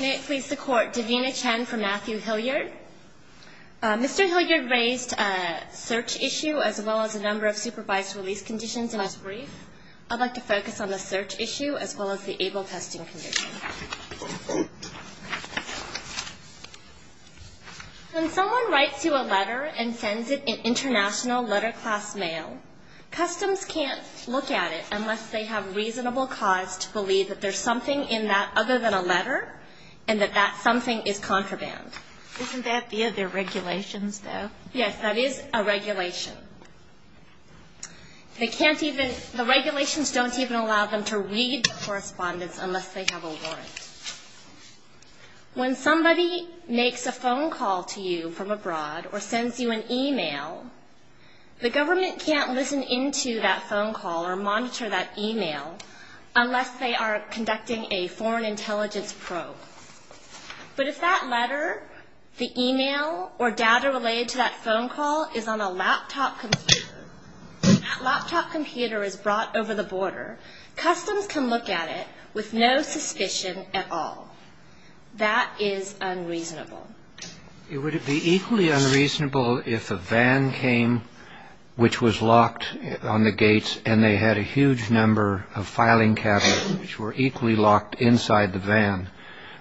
May it please the Court, Davina Chen for Matthew Hilliard. Mr. Hilliard raised a search issue as well as a number of supervised release conditions in his brief. I'd like to focus on the search issue as well as the ABLE testing condition. When someone writes you a letter and sends it in international letter class mail, customs can't look at it unless they have reasonable cause to believe that there's something in that other than a letter and that that something is contraband. Isn't that via the regulations though? Yes, that is a regulation. The regulations don't even allow them to read the correspondence unless they have a warrant. When somebody makes a phone call to you from abroad or sends you an e-mail, the government can't listen into that phone call or monitor that e-mail unless they are conducting a foreign intelligence probe. But if that letter, the e-mail, or data related to that phone call is on a laptop computer, that laptop computer is brought over the border, customs can look at it with no suspicion at all. That is unreasonable. Would it be equally unreasonable if a van came which was locked on the gates and they had a huge number of filing cabinets which were equally locked inside the van?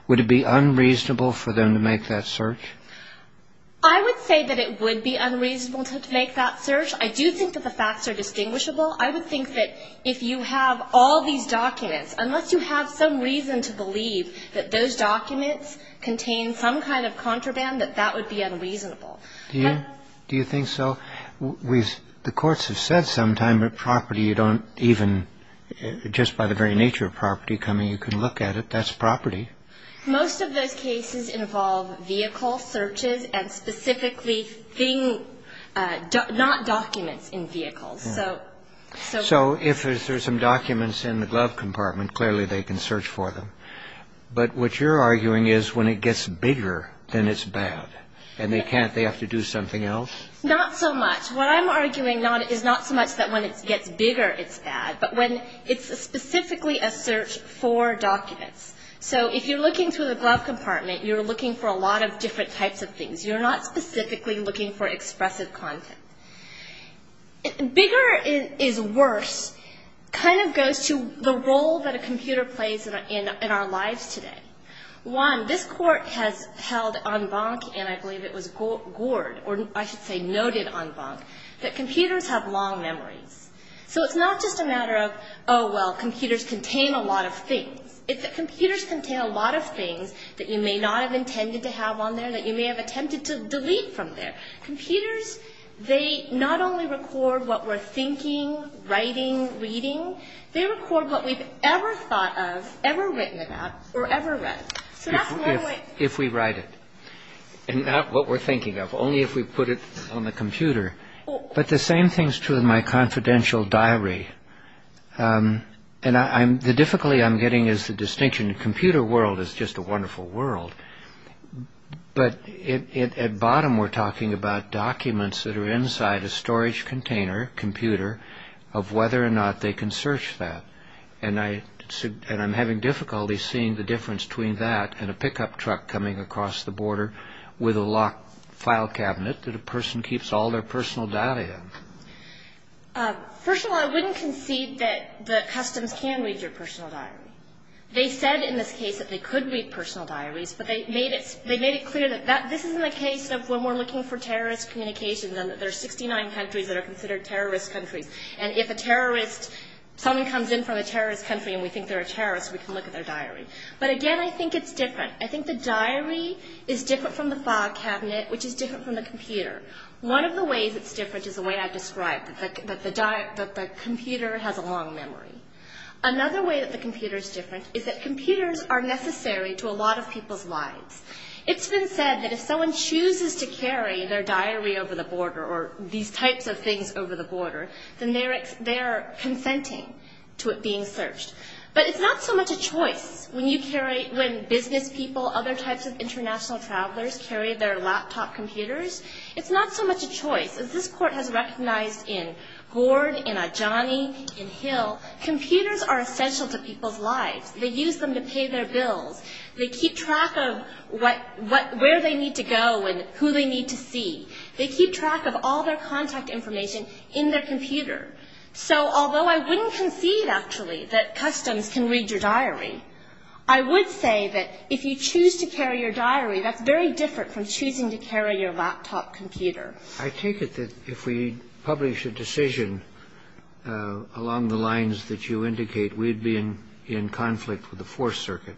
Would it be unreasonable for them to make that search? I would say that it would be unreasonable to make that search. I do think that the facts are distinguishable. I would think that if you have all these documents, unless you have some reason to believe that those documents contain some kind of contraband, that that would be unreasonable. Do you? Do you think so? The courts have said sometimes that property you don't even, just by the very nature of property coming you can look at it, that's property. Most of those cases involve vehicle searches and specifically thing, not documents in vehicles. So if there's some documents in the glove compartment, clearly they can search for them. But what you're arguing is when it gets bigger, then it's bad. And they can't, they have to do something else? Not so much. What I'm arguing is not so much that when it gets bigger it's bad, but when it's specifically a search for documents. So if you're looking through the glove compartment, you're looking for a lot of different types of things. You're not specifically looking for expressive content. Bigger is worse, kind of goes to the role that a computer plays in our lives today. One, this court has held en banc, and I believe it was gored, or I should say noted en banc, that computers have long memories. So it's not just a matter of, oh, well, computers contain a lot of things. It's that computers contain a lot of things that you may not have intended to have on there, that you may have attempted to delete from there. Computers, they not only record what we're thinking, writing, reading, they record what we've ever thought of, ever written about, or ever read. So that's one way. If we write it, and not what we're thinking of, only if we put it on the computer. But the same thing is true of my confidential diary. And the difficulty I'm getting is the distinction. Computer world is just a wonderful world. But at bottom we're talking about documents that are inside a storage container, computer, of whether or not they can search that. And I'm having difficulty seeing the difference between that and a pickup truck coming across the border with a locked file cabinet that a person keeps all their personal data in. First of all, I wouldn't concede that the customs can read your personal diary. They said in this case that they could read personal diaries, but they made it clear that this isn't the case of when we're looking for terrorist communications and that there are 69 countries that are considered terrorist countries. And if a terrorist, someone comes in from a terrorist country and we think they're a terrorist, we can look at their diary. But again, I think it's different. I think the diary is different from the file cabinet, which is different from the computer. One of the ways it's different is the way I've described, that the computer has a long memory. Another way that the computer is different is that computers are necessary to a lot of people's lives. It's been said that if someone chooses to carry their diary over the border or these types of things over the border, then they're consenting to it being searched. But it's not so much a choice. When business people, other types of international travelers, carry their laptop computers, it's not so much a choice. As this Court has recognized in Gord, in Ajani, in Hill, computers are essential to people's lives. They use them to pay their bills. They keep track of what, where they need to go and who they need to see. They keep track of all their contact information in their computer. So although I wouldn't concede, actually, that customs can read your diary, I would say that if you choose to carry your diary, that's very different from choosing to carry your laptop computer. I take it that if we publish a decision along the lines that you indicate, we'd be in conflict with the Fourth Circuit,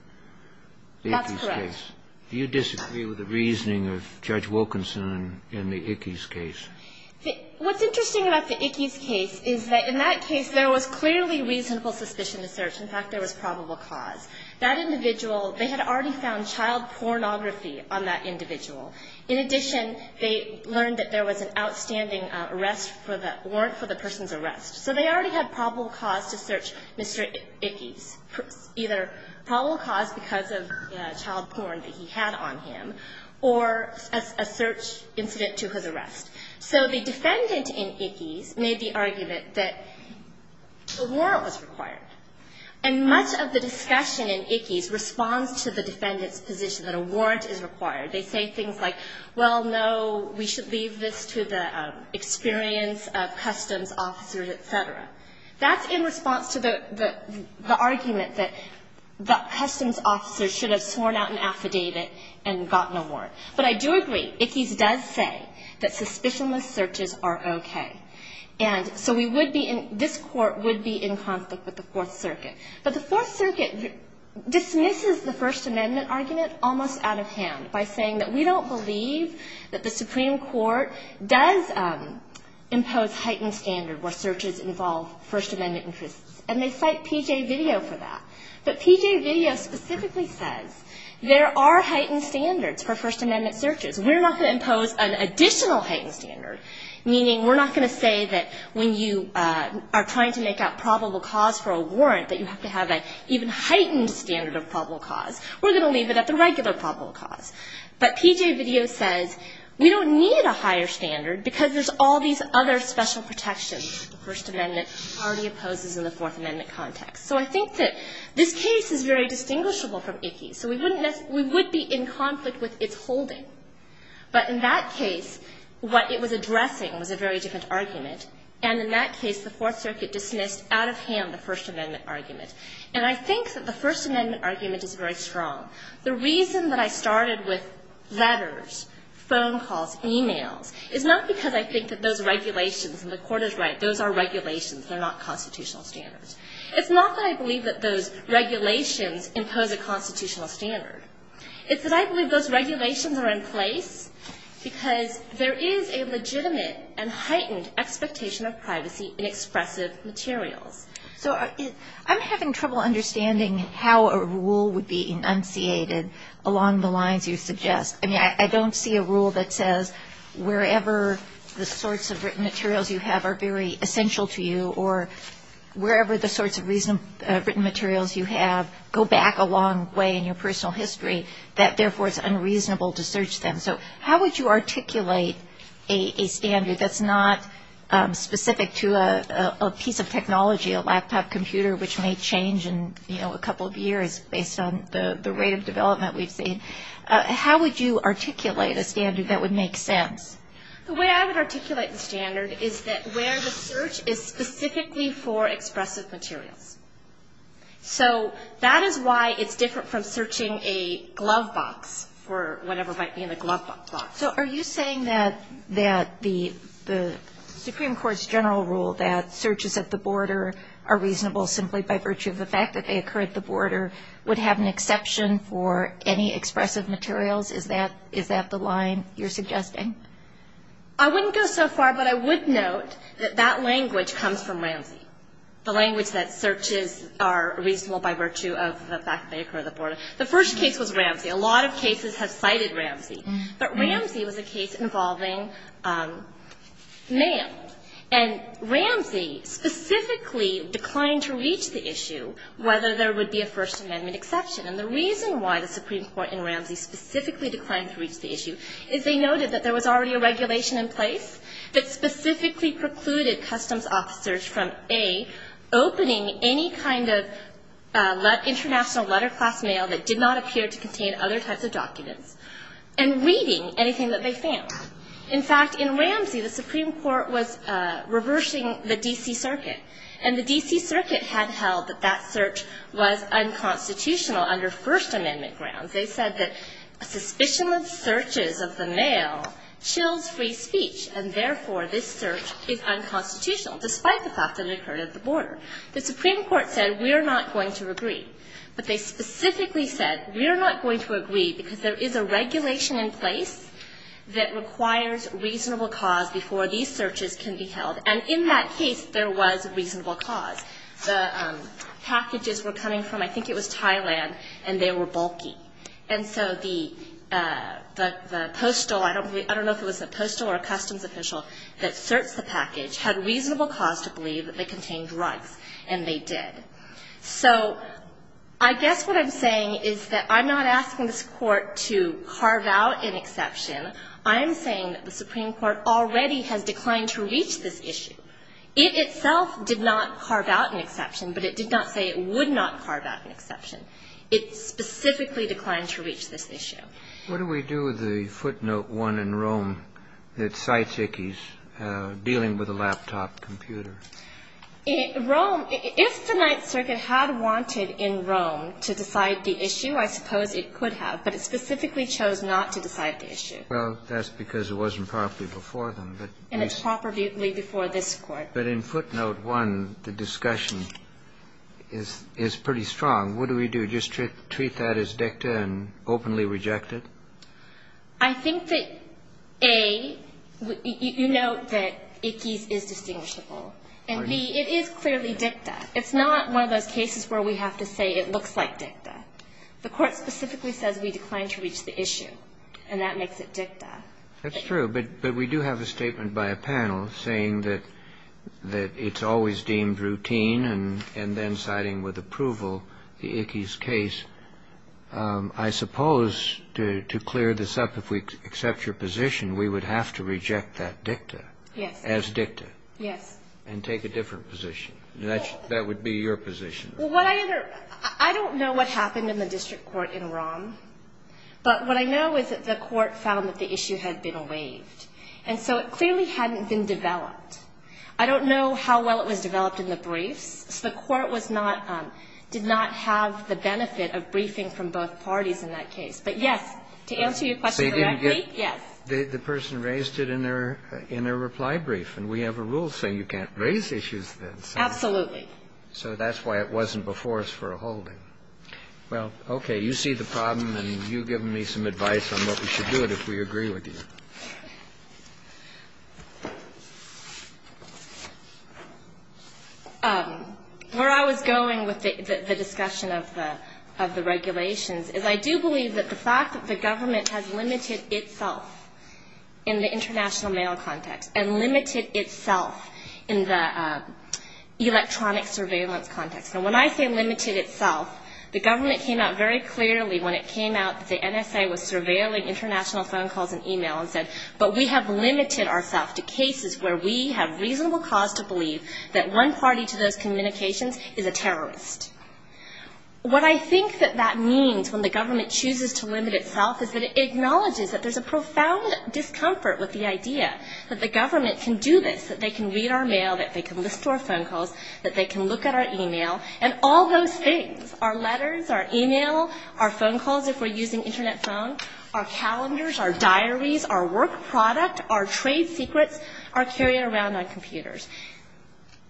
the Ickes case. That's correct. Do you disagree with the reasoning of Judge Wilkinson in the Ickes case? What's interesting about the Ickes case is that in that case, there was clearly reasonable suspicion to search. In fact, there was probable cause. That individual, they had already found child pornography on that individual. In addition, they learned that there was an outstanding warrant for the person's arrest. So they already had probable cause to search Mr. Ickes, either probable cause because of child porn that he had on him or a search incident to his arrest. So the defendant in Ickes made the argument that a warrant was required. And much of the discussion in Ickes responds to the defendant's position that a warrant is required. They say things like, well, no, we should leave this to the experience of customs officers, et cetera. That's in response to the argument that the customs officers should have sworn out an affidavit and got no warrant. But I do agree. Ickes does say that suspicionless searches are okay. And so we would be in — this Court would be in conflict with the Fourth Circuit. But the Fourth Circuit dismisses the First Amendment argument almost out of hand by saying that we don't believe that the Supreme Court does impose heightened standard where searches involve First Amendment interests. And they cite P.J. Video for that. But P.J. Video specifically says there are heightened standards for First Amendment searches. We're not going to impose an additional heightened standard, meaning we're not going to say that when you are trying to make out probable cause for a warrant, that you have to have an even heightened standard of probable cause. We're going to leave it at the regular probable cause. But P.J. Video says we don't need a higher standard because there's all these other special protections that the First Amendment already opposes in the Fourth Amendment context. So I think that this case is very distinguishable from Ickes. So we wouldn't — we would be in conflict with its holding. But in that case, what it was addressing was a very different argument. And in that case, the Fourth Circuit dismissed out of hand the First Amendment argument. And I think that the First Amendment argument is very strong. The reason that I started with letters, phone calls, e-mails, is not because I think that those regulations, and the Court is right, those are regulations. They're not constitutional standards. It's not that I believe that those regulations impose a constitutional standard. It's that I believe those regulations are in place because there is a legitimate and heightened expectation of privacy in expressive materials. So I'm having trouble understanding how a rule would be enunciated along the lines you suggest. I mean, I don't see a rule that says wherever the sorts of written materials you have are very essential to you or wherever the sorts of written materials you have go back a long way in your personal history, that therefore it's unreasonable to search them. So how would you articulate a standard that's not specific to a piece of technology, a laptop computer which may change in, you know, a couple of years based on the rate of development we've seen? How would you articulate a standard that would make sense? The way I would articulate the standard is that where the search is specifically for expressive materials. So that is why it's different from searching a glove box for whatever might be in the glove box. So are you saying that the Supreme Court's general rule that searches at the border are reasonable simply by virtue of the fact that they occur at the border would have an exception for any expressive materials? Is that the line you're suggesting? I wouldn't go so far, but I would note that that language comes from Ramsey, the language that searches are reasonable by virtue of the fact that they occur at the border. The first case was Ramsey. A lot of cases have cited Ramsey. But Ramsey was a case involving mail. And Ramsey specifically declined to reach the issue whether there would be a First Amendment exception. And the reason why the Supreme Court in Ramsey specifically declined to reach the issue is they noted that there was already a regulation in place that specifically precluded customs officers from, A, opening any kind of international letter class mail that did not appear to contain other types of documents, and reading anything that they found. In fact, in Ramsey, the Supreme Court was reversing the D.C. Circuit. And the D.C. Circuit had held that that search was unconstitutional under First Amendment grounds. They said that a suspicion of searches of the mail chills free speech, and therefore this search is unconstitutional, despite the fact that it occurred at the border. The Supreme Court said we are not going to agree. But they specifically said we are not going to agree because there is a regulation in place that requires reasonable cause before these searches can be held. And in that case, there was reasonable cause. The packages were coming from, I think it was Thailand, and they were bulky. And so the postal, I don't know if it was a postal or a customs official that searched the package, had reasonable cause to believe that they contained drugs, and they did. So I guess what I'm saying is that I'm not asking this Court to carve out an exception. I am saying that the Supreme Court already has declined to reach this issue. It itself did not carve out an exception, but it did not say it would not carve out an exception. It specifically declined to reach this issue. What do we do with the footnote 1 in Rome that cites Ickes dealing with a laptop computer? Rome, if the Ninth Circuit had wanted in Rome to decide the issue, I suppose it could have, but it specifically chose not to decide the issue. Well, that's because it wasn't properly before them. And it's properly before this Court. But in footnote 1, the discussion is pretty strong. What do we do? Just treat that as dicta and openly reject it? I think that, A, you note that Ickes is distinguishable. And, B, it is clearly dicta. It's not one of those cases where we have to say it looks like dicta. The Court specifically says we decline to reach the issue, and that makes it dicta. That's true. But we do have a statement by a panel saying that it's always deemed routine and then citing with approval the Ickes case. I suppose to clear this up, if we accept your position, we would have to reject that dicta. Yes. As dicta. Yes. And take a different position. That would be your position. I don't know what happened in the district court in Rome, but what I know is that the court found that the issue had been waived. And so it clearly hadn't been developed. I don't know how well it was developed in the briefs. So the court was not – did not have the benefit of briefing from both parties in that case. But, yes, to answer your question correctly, yes. The person raised it in their reply brief, and we have a rule saying you can't raise issues then. Absolutely. So that's why it wasn't before us for a holding. Well, okay. You see the problem, and you give me some advice on what we should do if we agree with you. Where I was going with the discussion of the regulations is I do believe that the fact that the government has limited itself in the international mail context and limited itself in the electronic surveillance context. Now, when I say limited itself, the government came out very clearly when it came out that the NSA was surveilling international phone calls and email and said, but we have limited ourselves to cases where we have reasonable cause to believe that one party to those communications is a terrorist. What I think that that means when the government chooses to limit itself is that it acknowledges that there's a profound discomfort with the idea that the government can do this, that they can read our mail, that they can listen to our phone calls, that they can look at our email, and all those things, our letters, our email, our phone calls if we're using internet phone, our calendars, our diaries, our work product, our trade secrets are carried around on computers.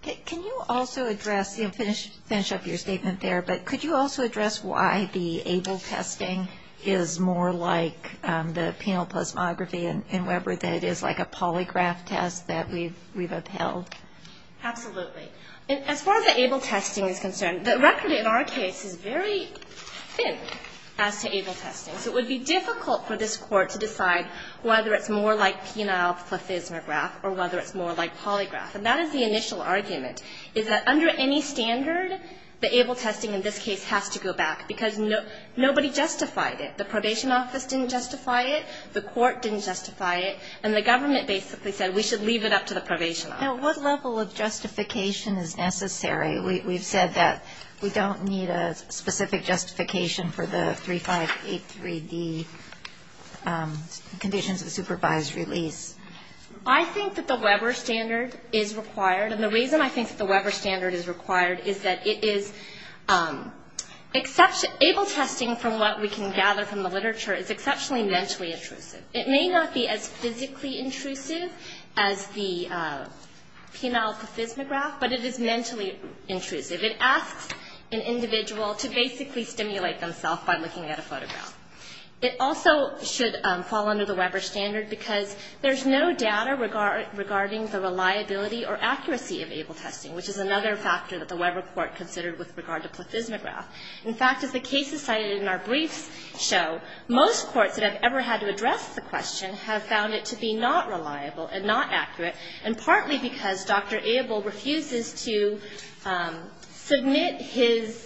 Can you also address, finish up your statement there, but could you also address why the ABLE testing is more like the penal plasmography in Weber than it is like a polygraph test that we've upheld? Absolutely. As far as the ABLE testing is concerned, the record in our case is very thin as to ABLE testing. So it would be difficult for this Court to decide whether it's more like penal plasmograph or whether it's more like polygraph. And that is the initial argument, is that under any standard, the ABLE testing in this case has to go back, because nobody justified it. The probation office didn't justify it. The court didn't justify it. And the government basically said we should leave it up to the probation office. Now, what level of justification is necessary? We've said that we don't need a specific justification for the 3583D, conditions of supervised release. I think that the Weber standard is required. And the reason I think that the Weber standard is required is that it is ABLE testing, from what we can gather from the literature, is exceptionally mentally intrusive. It may not be as physically intrusive as the penal plasmograph, but it is mentally intrusive. It asks an individual to basically stimulate themselves by looking at a photograph. It also should fall under the Weber standard because there's no data regarding the reliability or accuracy of ABLE testing, which is another factor that the Weber Court considered with regard to plasmograph. In fact, as the cases cited in our briefs show, most courts that have ever had to ask the question have found it to be not reliable and not accurate, and partly because Dr. ABLE refuses to submit his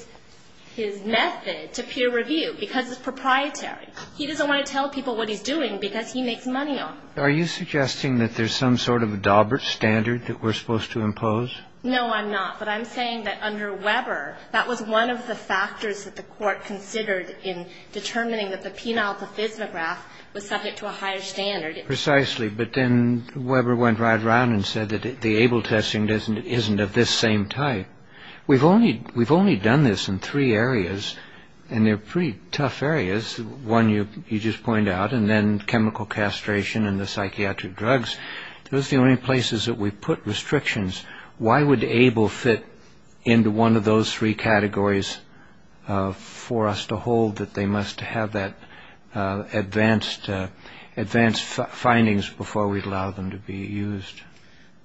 method to peer review because it's proprietary. He doesn't want to tell people what he's doing because he makes money on it. Are you suggesting that there's some sort of a Daubert standard that we're supposed to impose? No, I'm not. But I'm saying that under Weber, that was one of the factors that the Court considered in determining that the penal plasmograph was subject to a higher standard. Precisely. But then Weber went right around and said that the ABLE testing isn't of this same type. We've only done this in three areas, and they're pretty tough areas. One, you just point out, and then chemical castration and the psychiatric drugs. Those are the only places that we put restrictions. Why would ABLE fit into one of those three categories for us to hold that they must have that advanced findings before we'd allow them to be used?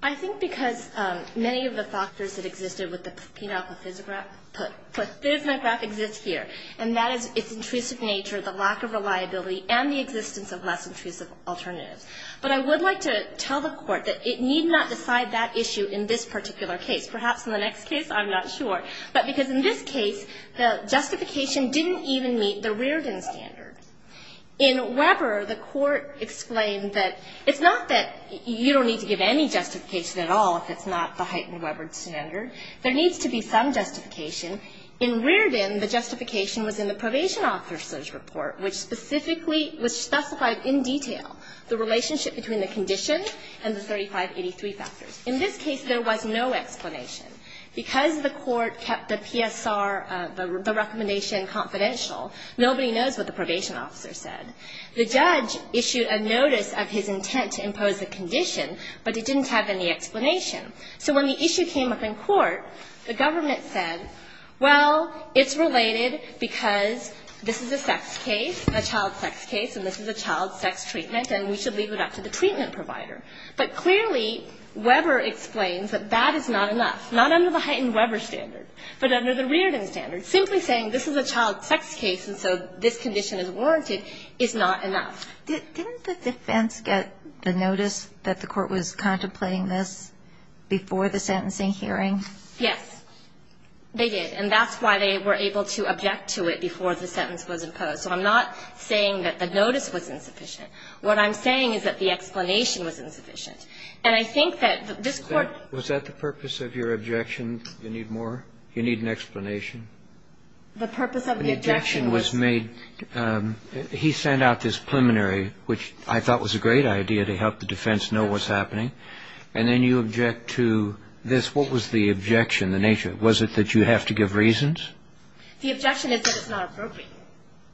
I think because many of the factors that existed with the penal plasmagraph exist here, and that is its intrusive nature, the lack of reliability, and the existence of less intrusive alternatives. But I would like to tell the Court that it need not decide that issue in this particular case. Perhaps in the next case, I'm not sure. But because in this case, the justification didn't even meet the Reardon standard. In Weber, the Court explained that it's not that you don't need to give any justification at all if it's not the heightened Weber standard. There needs to be some justification. In Reardon, the justification was in the probation officer's report, which specifically was specified in detail the relationship between the condition and the 3583 factors. In this case, there was no explanation. Because the Court kept the PSR, the recommendation, confidential, nobody knows what the probation officer said. The judge issued a notice of his intent to impose the condition, but it didn't have any explanation. So when the issue came up in court, the government said, Well, it's related because this is a sex case, a child sex case, and this is a child sex treatment, and we should leave it up to the treatment provider. But clearly, Weber explains that that is not enough, not under the heightened Weber standard, but under the Reardon standard. Simply saying this is a child sex case and so this condition is warranted is not enough. Didn't the defense get the notice that the Court was contemplating this before the sentencing hearing? Yes. They did. And that's why they were able to object to it before the sentence was imposed. So I'm not saying that the notice was insufficient. What I'm saying is that the explanation was insufficient. And I think that this Court ---- Was that the purpose of your objection? You need more? You need an explanation? The purpose of the objection was ---- The objection was made ---- he sent out this preliminary, which I thought was a great idea to help the defense know what's happening, and then you object to this. What was the objection, the nature of it? Was it that you have to give reasons? The objection is that it's not appropriate.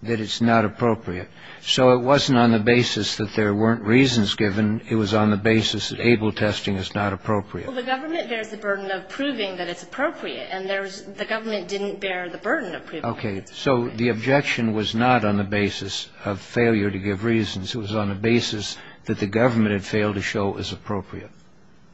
That it's not appropriate. So it wasn't on the basis that there weren't reasons given. It was on the basis that able testing is not appropriate. Well, the government bears the burden of proving that it's appropriate, and the government didn't bear the burden of proving it. Okay. So the objection was not on the basis of failure to give reasons. It was on the basis that the government had failed to show it was appropriate.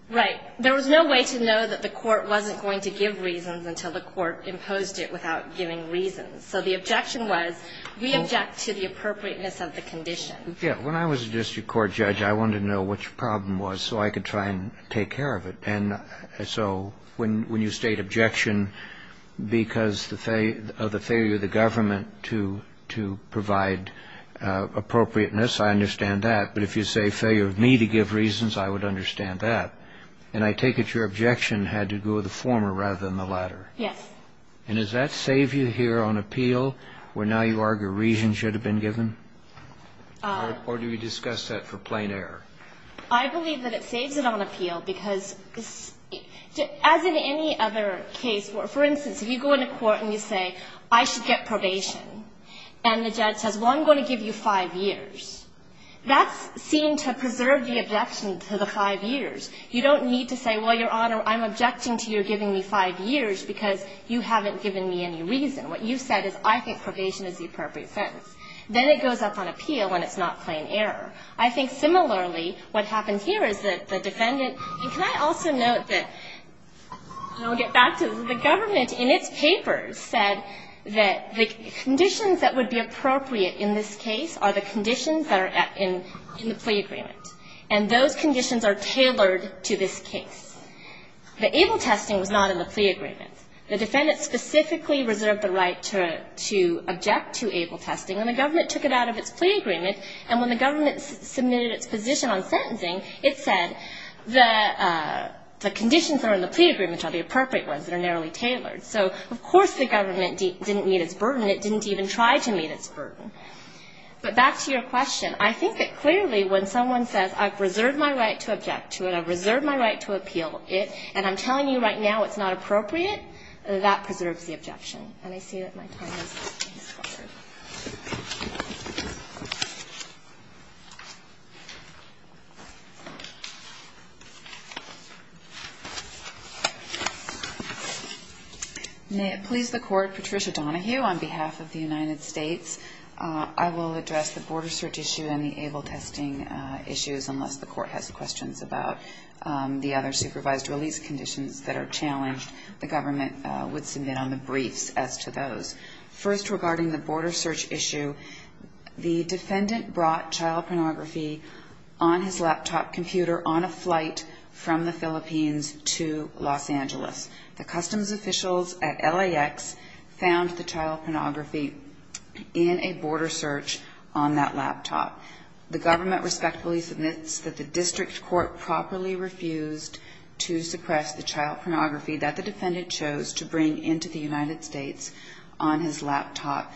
Right. There was no way to know that the Court wasn't going to give reasons until the Court imposed it without giving reasons. So the objection was we object to the appropriateness of the condition. Yes. When I was a district court judge, I wanted to know what your problem was so I could try and take care of it. And so when you state objection because of the failure of the government to provide appropriateness, I understand that. But if you say failure of me to give reasons, I would understand that. And I take it your objection had to do with the former rather than the latter. Yes. And does that save you here on appeal where now you argue reasons should have been given? Or do we discuss that for plain error? I believe that it saves it on appeal because, as in any other case where, for instance, if you go into court and you say, I should get probation, and the judge says, well, I'm going to give you five years, that's seen to preserve the objection to the five years. You don't need to say, well, Your Honor, I'm objecting to your giving me five years because you haven't given me any reason. What you've said is I think probation is the appropriate sentence. Then it goes up on appeal when it's not plain error. I think similarly what happened here is that the defendant – and can I also note that – and I'll get back to this. The government in its papers said that the conditions that would be appropriate in this case are the conditions that are in the plea agreement. And those conditions are tailored to this case. The able testing was not in the plea agreement. The defendant specifically reserved the right to object to able testing, and the government took it out of its plea agreement. And when the government submitted its position on sentencing, it said the conditions that are in the plea agreement are the appropriate ones that are narrowly tailored. So, of course, the government didn't meet its burden. It didn't even try to meet its burden. But back to your question. I think that clearly when someone says I've reserved my right to object to it, I've reserved my right to appeal it, and I'm telling you right now it's not appropriate, that preserves the objection. And I see that my time is up. Thank you. May it please the Court, Patricia Donahue, on behalf of the United States, I will address the border search issue and the able testing issues, unless the Court has questions about the other supervised release conditions that are challenged. The government would submit on the briefs as to those. First, regarding the border search issue, the defendant brought child pornography on his laptop computer on a flight from the Philippines to Los Angeles. The customs officials at LAX found the child pornography in a border search on that laptop. The government respectfully submits that the district court properly refused to suppress the child pornography that the defendant chose to bring into the United States on his laptop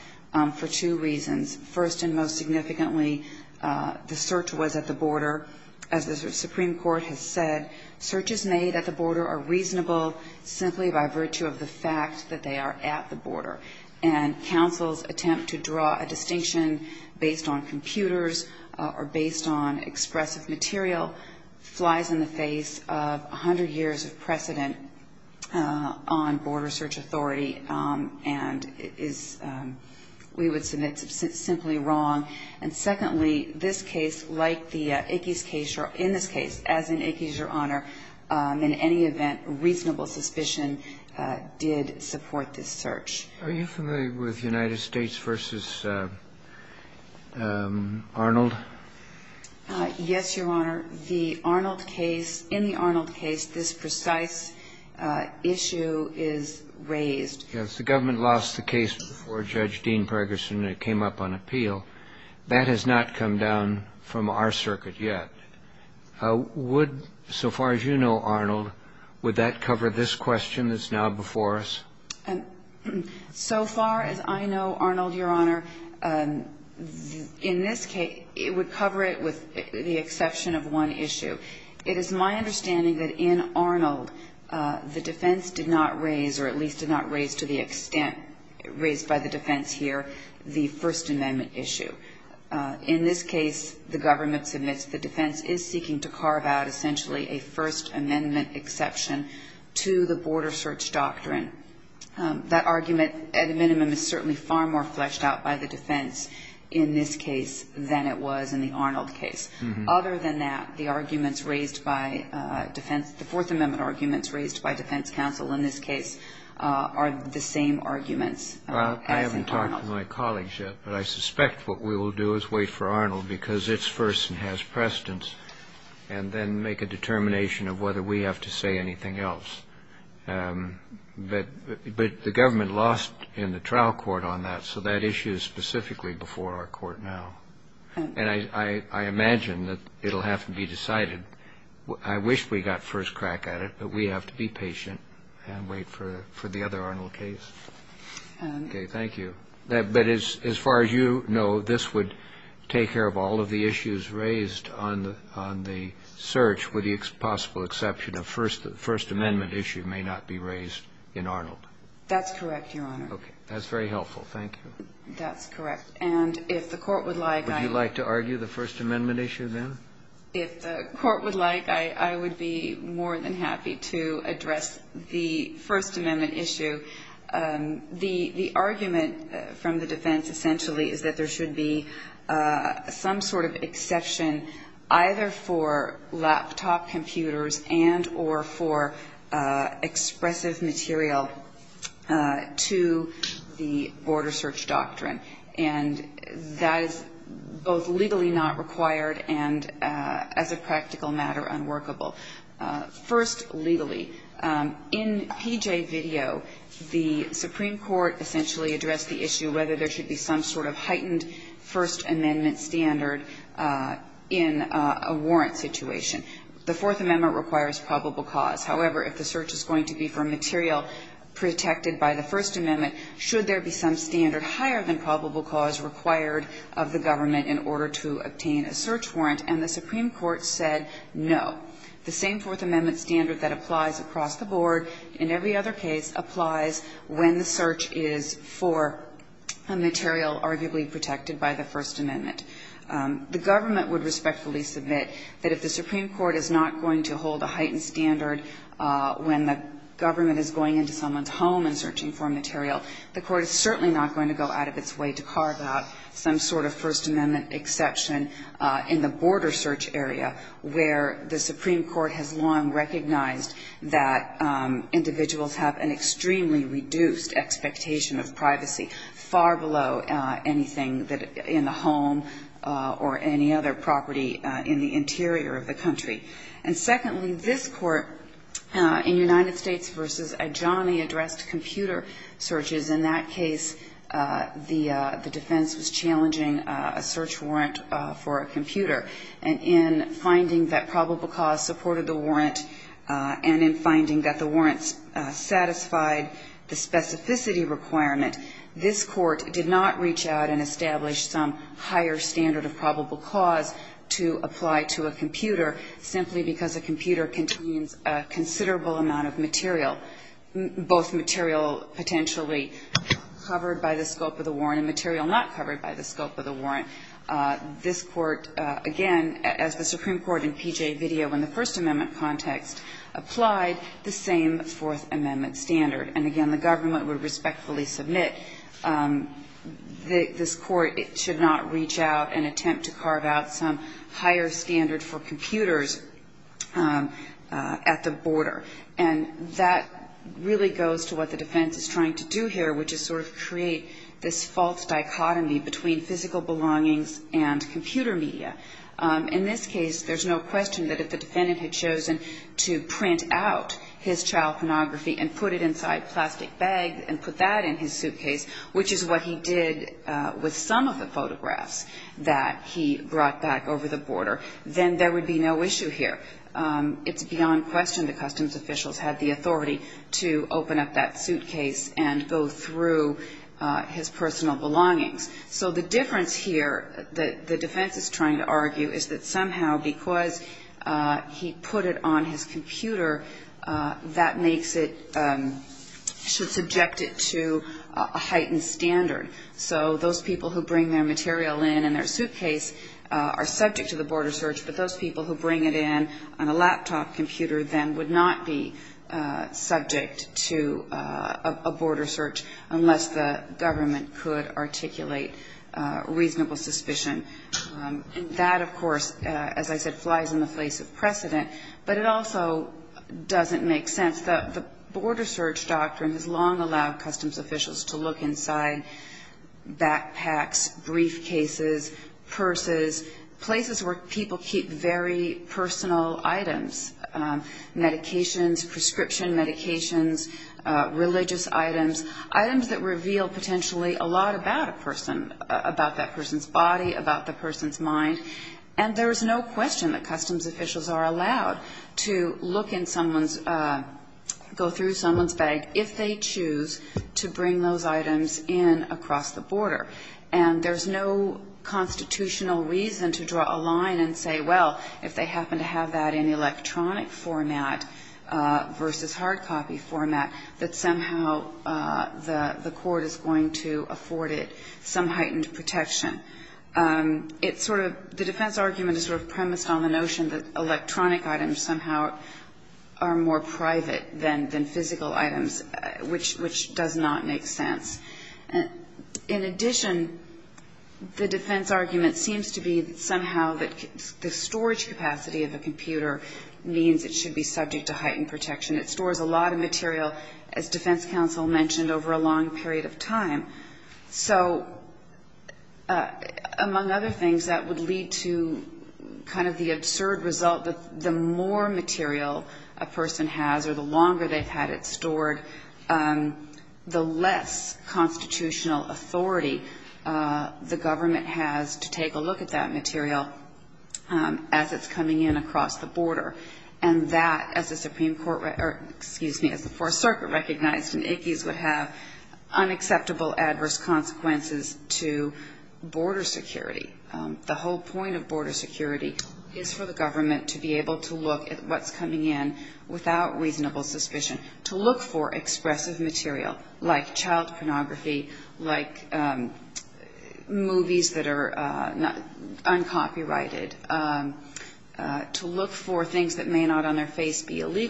for two reasons. First and most significantly, the search was at the border. As the Supreme Court has said, searches made at the border are reasonable simply by virtue of the fact that they are at the border. And counsel's attempt to draw a distinction based on computers or based on expressive material flies in the face of 100 years of precedent on border search authority and is we would submit simply wrong. And secondly, this case, like the Ickes case, or in this case, as in Ickes, Your Honor, in any event, reasonable suspicion did support this search. Are you familiar with United States v. Arnold? Yes, Your Honor. The Arnold case, in the Arnold case, this precise issue is raised. Yes. The government lost the case before Judge Dean Pergerson came up on appeal. That has not come down from our circuit yet. Would, so far as you know, Arnold, would that cover this question that's now before us? So far as I know, Arnold, Your Honor, in this case, it would cover it with the exception of one issue. It is my understanding that in Arnold, the defense did not raise, or at least did not raise to the extent raised by the defense here, the First Amendment issue. In this case, the government submits the defense is seeking to carve out, essentially, a First Amendment exception to the border search doctrine. That argument, at a minimum, is certainly far more fleshed out by the defense in this case than it was in the Arnold case. Other than that, the arguments raised by defense, the Fourth Amendment arguments raised by defense counsel in this case are the same arguments as in Arnold. I haven't talked to my colleagues yet, but I suspect what we will do is wait for Arnold because it's first and has precedence, and then make a determination of whether we have to say anything else. But the government lost in the trial court on that, so that issue is specifically before our court now. And I imagine that it will have to be decided. I wish we got first crack at it, but we have to be patient and wait for the other Arnold case. Okay, thank you. But as far as you know, this would take care of all of the issues raised on the search with the possible exception of First Amendment issue may not be raised in Arnold. That's correct, Your Honor. Okay. That's very helpful. Thank you. That's correct. And if the court would like, I Would you like to argue the First Amendment issue then? If the court would like, I would be more than happy to address the First Amendment issue. The argument from the defense, essentially, is that there should be some sort of exception either for laptop computers and or for expressive material to the border search doctrine. And that is both legally not required and, as a practical matter, unworkable. First, legally. In PJ video, the Supreme Court essentially addressed the issue whether there should be some sort of heightened First Amendment standard in a warrant situation. The Fourth Amendment requires probable cause. However, if the search is going to be for material protected by the First Amendment, should there be some standard higher than probable cause required of the government in order to obtain a search warrant? And the Supreme Court said no. The same Fourth Amendment standard that applies across the board in every other case applies when the search is for a material arguably protected by the First Amendment. The government would respectfully submit that if the Supreme Court is not going to hold a heightened standard when the government is going into someone's home and searching for material, the court is certainly not going to go out of its way to carve out some sort of First Amendment exception in the border search area where the Supreme Court has long recognized that individuals have an extremely reduced expectation of privacy, far below anything in the home or any other property in the interior of the country. And secondly, this Court in United States v. Adjani addressed computer searches. In that case, the defense was challenging a search warrant for a computer. And in finding that probable cause supported the warrant and in finding that the warrant satisfied the specificity requirement, this Court did not reach out and establish some higher standard of probable cause to apply to a computer simply because a computer contains a considerable amount of material, both material potentially covered by the scope of the warrant and material not covered by the scope of the warrant. This Court, again, as the Supreme Court in P.J. video in the First Amendment context, applied the same Fourth Amendment standard. And again, the government would respectfully submit that this Court should not reach out and attempt to carve out some higher standard for computers at the border. And that really goes to what the defense is trying to do here, which is sort of create this false dichotomy between physical belongings and computer media. In this case, there's no question that if the defendant had chosen to print out his child pornography and put it inside plastic bags and put that in his suitcase, which is what he did with some of the photographs that he brought back over the border, then there would be no issue here. It's beyond question the customs officials had the authority to open up that suitcase and go through his personal belongings. So the difference here that the defense is trying to argue is that somehow because he put it on his computer, that makes it, should subject it to a heightened standard. So those people who bring their material in in their suitcase are subject to the border search, but those people who bring it in on a laptop computer then would not be subject to a border search unless the government could articulate reasonable suspicion. And that, of course, as I said, flies in the face of precedent, but it also doesn't make sense. The border search doctrine has long allowed customs officials to look inside backpacks, briefcases, purses, places where people keep very personal items, medications, prescription medications, religious items, items that reveal potentially a lot about a person, about that person's body, about the person's mind, and there's no question that customs officials are allowed to look in someone's, go through someone's bag if they choose to bring those items in across the border. And there's no constitutional reason to draw a line and say, well, if they happen to have that in electronic format versus hard copy format, that somehow the court is going to afford it some heightened protection. It's sort of the defense argument is sort of premised on the notion that electronic items somehow are more private than physical items, which does not make sense. In addition, the defense argument seems to be somehow that the storage capacity of the computer means it should be subject to heightened protection. It stores a lot of material, as defense counsel mentioned, over a long period of time. So among other things, that would lead to kind of the absurd result that the more material a person has or the longer they've had it stored, the less constitutional authority the government has to take a look at that material as it's coming in across the border. And that, as the Supreme Court, or as the Supreme Court has said, has unacceptable adverse consequences to border security. The whole point of border security is for the government to be able to look at what's coming in without reasonable suspicion, to look for expressive material like child pornography, like movies that are uncopyrighted, to look for things that may not on their face be used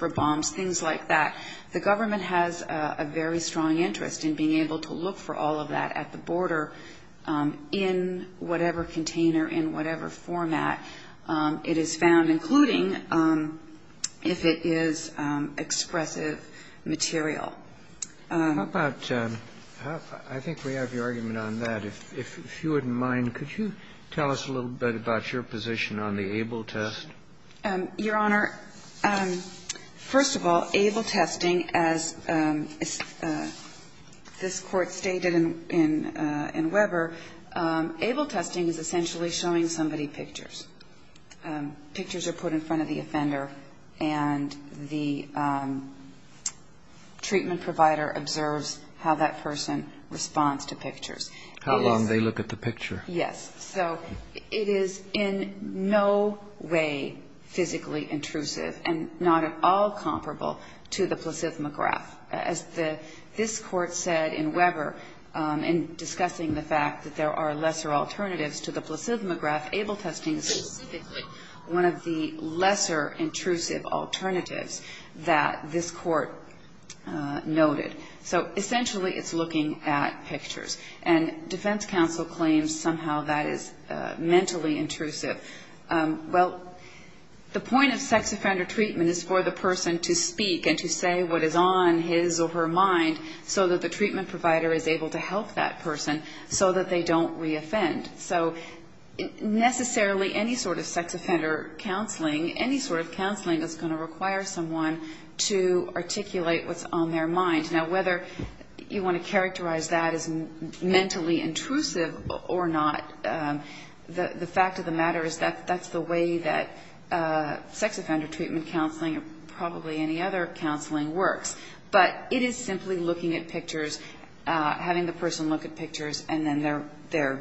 for bombs, things like that. The government has a very strong interest in being able to look for all of that at the border in whatever container, in whatever format it is found, including if it is expressive material. Kennedy. How about – I think we have your argument on that. If you wouldn't mind, could you tell us a little bit about your position on the Abel test? Your Honor, first of all, Abel testing, as this Court stated in Weber, Abel testing is essentially showing somebody pictures. Pictures are put in front of the offender, and the treatment provider observes how that person responds to pictures. How long they look at the picture. Yes. So it is in no way physically intrusive and not at all comparable to the placidemograph. As this Court said in Weber in discussing the fact that there are lesser alternatives to the placidemograph, Abel testing is specifically one of the lesser intrusive alternatives that this Court noted. So essentially it's looking at pictures. And defense counsel claims somehow that is mentally intrusive. Well, the point of sex offender treatment is for the person to speak and to say what is on his or her mind so that the treatment provider is able to help that person so that they don't reoffend. So necessarily any sort of sex offender counseling, any sort of counseling is going to require someone to articulate what's on their mind. Now, whether you want to characterize that as mentally intrusive or not, the fact of the matter is that that's the way that sex offender treatment counseling or probably any other counseling works. But it is simply looking at pictures, having the person look at pictures, and then their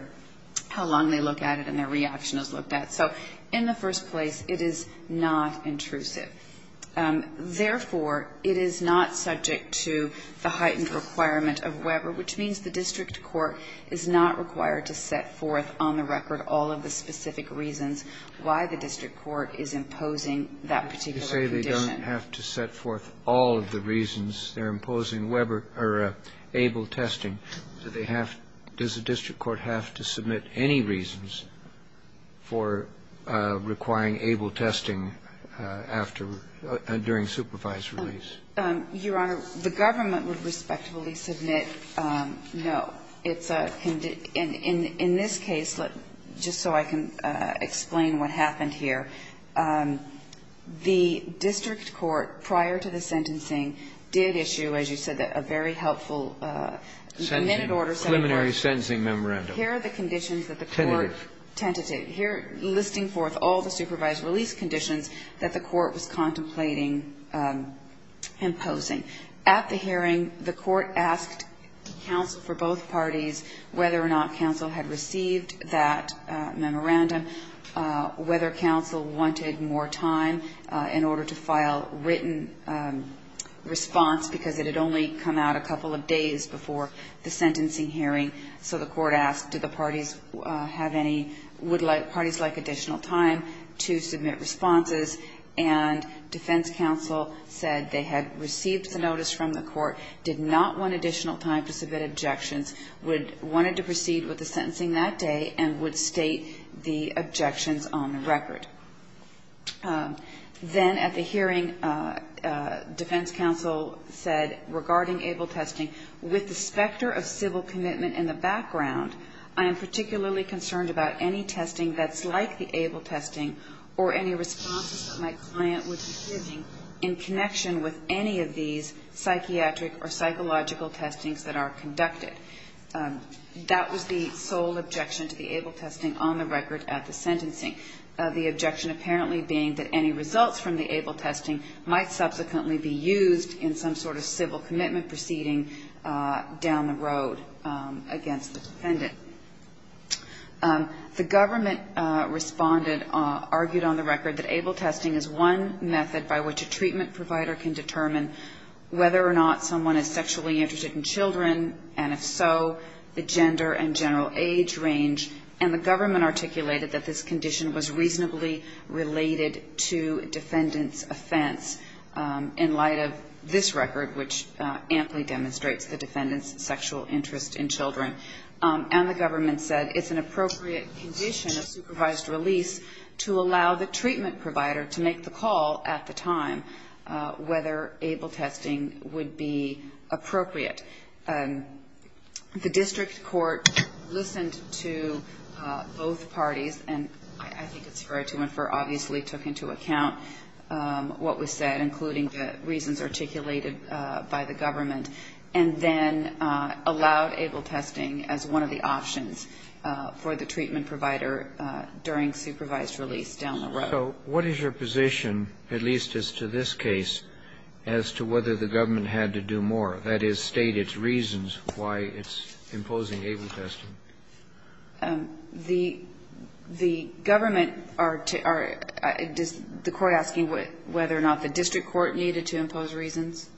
how long they look at it and their reaction is looked at. So in the first place, it is not intrusive. Therefore, it is not subject to the heightened requirement of Weber, which means the district court is not required to set forth on the record all of the specific reasons why the district court is imposing that particular condition. You say they don't have to set forth all of the reasons they're imposing Weber or ABLE testing. Do they have to – does the district court have to submit any reasons for requiring ABLE testing after – during supervised release? Your Honor, the government would respectfully submit no. Well, it's a – in this case, just so I can explain what happened here, the district court, prior to the sentencing, did issue, as you said, a very helpful submitted order. Sentencing. Preliminary sentencing memorandum. Here are the conditions that the court – Tentative. Tentative. Here, listing forth all the supervised release conditions that the court was contemplating imposing. At the hearing, the court asked counsel for both parties whether or not counsel had received that memorandum, whether counsel wanted more time in order to file written response, because it had only come out a couple of days before the sentencing hearing. So the court asked, do the parties have any – would parties like additional time to submit responses? And defense counsel said they had received the notice from the court, did not want additional time to submit objections, would – wanted to proceed with the sentencing that day, and would state the objections on the record. Then at the hearing, defense counsel said, regarding ABLE testing, with the specter of civil commitment in the background, I am particularly concerned about any testing that's like the ABLE testing or any responses that my client would be giving in connection with any of these psychiatric or psychological testings that are conducted. That was the sole objection to the ABLE testing on the record at the sentencing, the objection apparently being that any results from the ABLE testing might subsequently be used in some sort of civil commitment proceeding down the road against the defendant. The government responded – argued on the record that ABLE testing is one method by which a treatment provider can determine whether or not someone is sexually interested in children, and if so, the gender and general age range. And the government articulated that this condition was reasonably related to defendant's offense in light of this record, which amply demonstrates the defendant's sexual interest in children. And the government said it's an appropriate condition of supervised release to allow the treatment provider to make the call at the time whether ABLE testing would be appropriate. The district court listened to both parties, and I think it's fair to infer obviously took into account what was said, including the reasons articulated by the government, and then allowed ABLE testing as one of the options for the treatment provider during supervised release down the road. So what is your position, at least as to this case, as to whether the government had to do more, that is, state its reasons why it's imposing ABLE testing? The government are – the court asking whether or not the district court needed to impose reasons?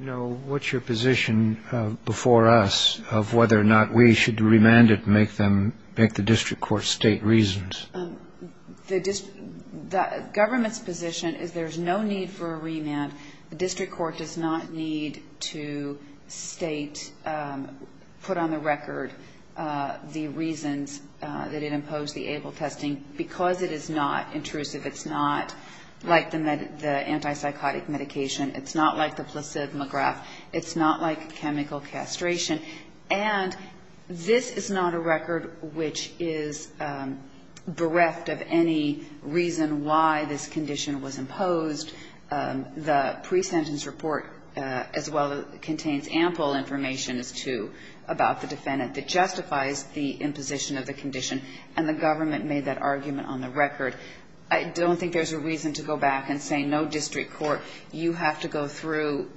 No. What's your position before us of whether or not we should remand it and make them – make the district court state reasons? The district – the government's position is there's no need for a remand. The district court does not need to state – put on the record the reasons that it imposed the ABLE testing because it is not intrusive. It's not like the anti-psychotic medication. It's not like the placid McGrath. It's not like chemical castration. And this is not a record which is bereft of any reason why this condition was imposed. The pre-sentence report as well contains ample information as to – about the defendant that justifies the imposition of the condition, and the government made that argument on the record. I don't think there's a reason to go back and say, no, district court, you have to go through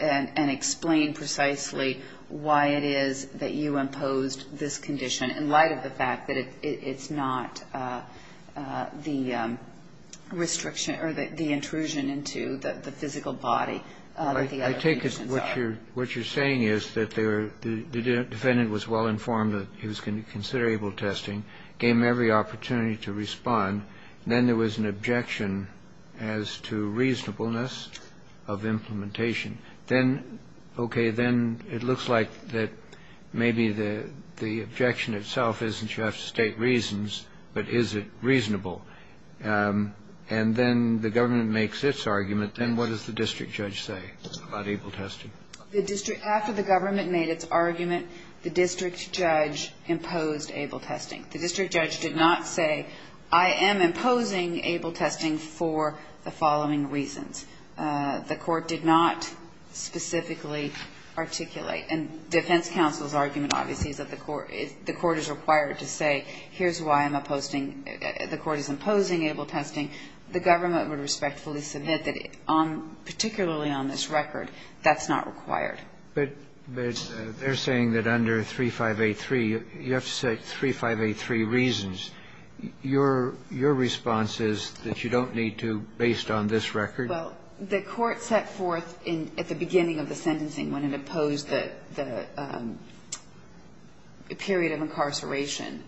and explain precisely why it is that you imposed this condition in light of the fact that it's not the restriction or the intrusion into the physical body that the other conditions are. I take it what you're saying is that the defendant was well-informed that he was going to have to go through and explain why he imposed ABLE testing, gave him every opportunity to respond, and then there was an objection as to reasonableness of implementation. Then, okay, then it looks like that maybe the objection itself isn't you have to state reasons, but is it reasonable? And then the government makes its argument. Then what does the district judge say about ABLE testing? The district – after the government made its argument, the district judge imposed ABLE testing. The district judge did not say, I am imposing ABLE testing for the following reasons. The court did not specifically articulate – and defense counsel's argument, obviously, is that the court – the court is required to say, here's why I'm opposing – the court is imposing ABLE testing. The government would respectfully this event that on – particularly on this record, that's not required. But they're saying that under 3583, you have to say 3583 reasons. Your response is that you don't need to based on this record? Well, the court set forth in – at the beginning of the sentencing when it opposed the period of incarceration,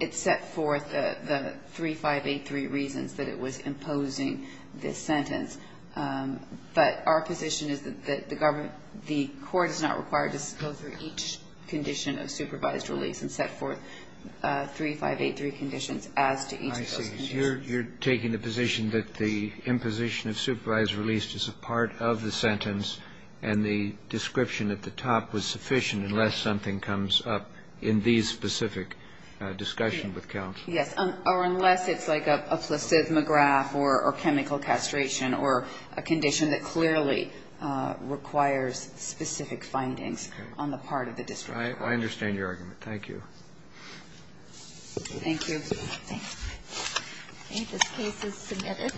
it set forth the 3583 reasons that it was imposing this sentence. But our position is that the government – the court is not required to go through each condition of supervised release and set forth 3583 conditions as to each of those conditions. I see. So you're taking the position that the imposition of supervised release is a part of the sentence, and the description at the top was sufficient unless something comes up in these specific discussions with counsel? Yes. Or unless it's like a placid McGrath or chemical castration or a condition that clearly requires specific findings on the part of the district court. I understand your argument. Thank you. Thank you. Okay. This case is submitted.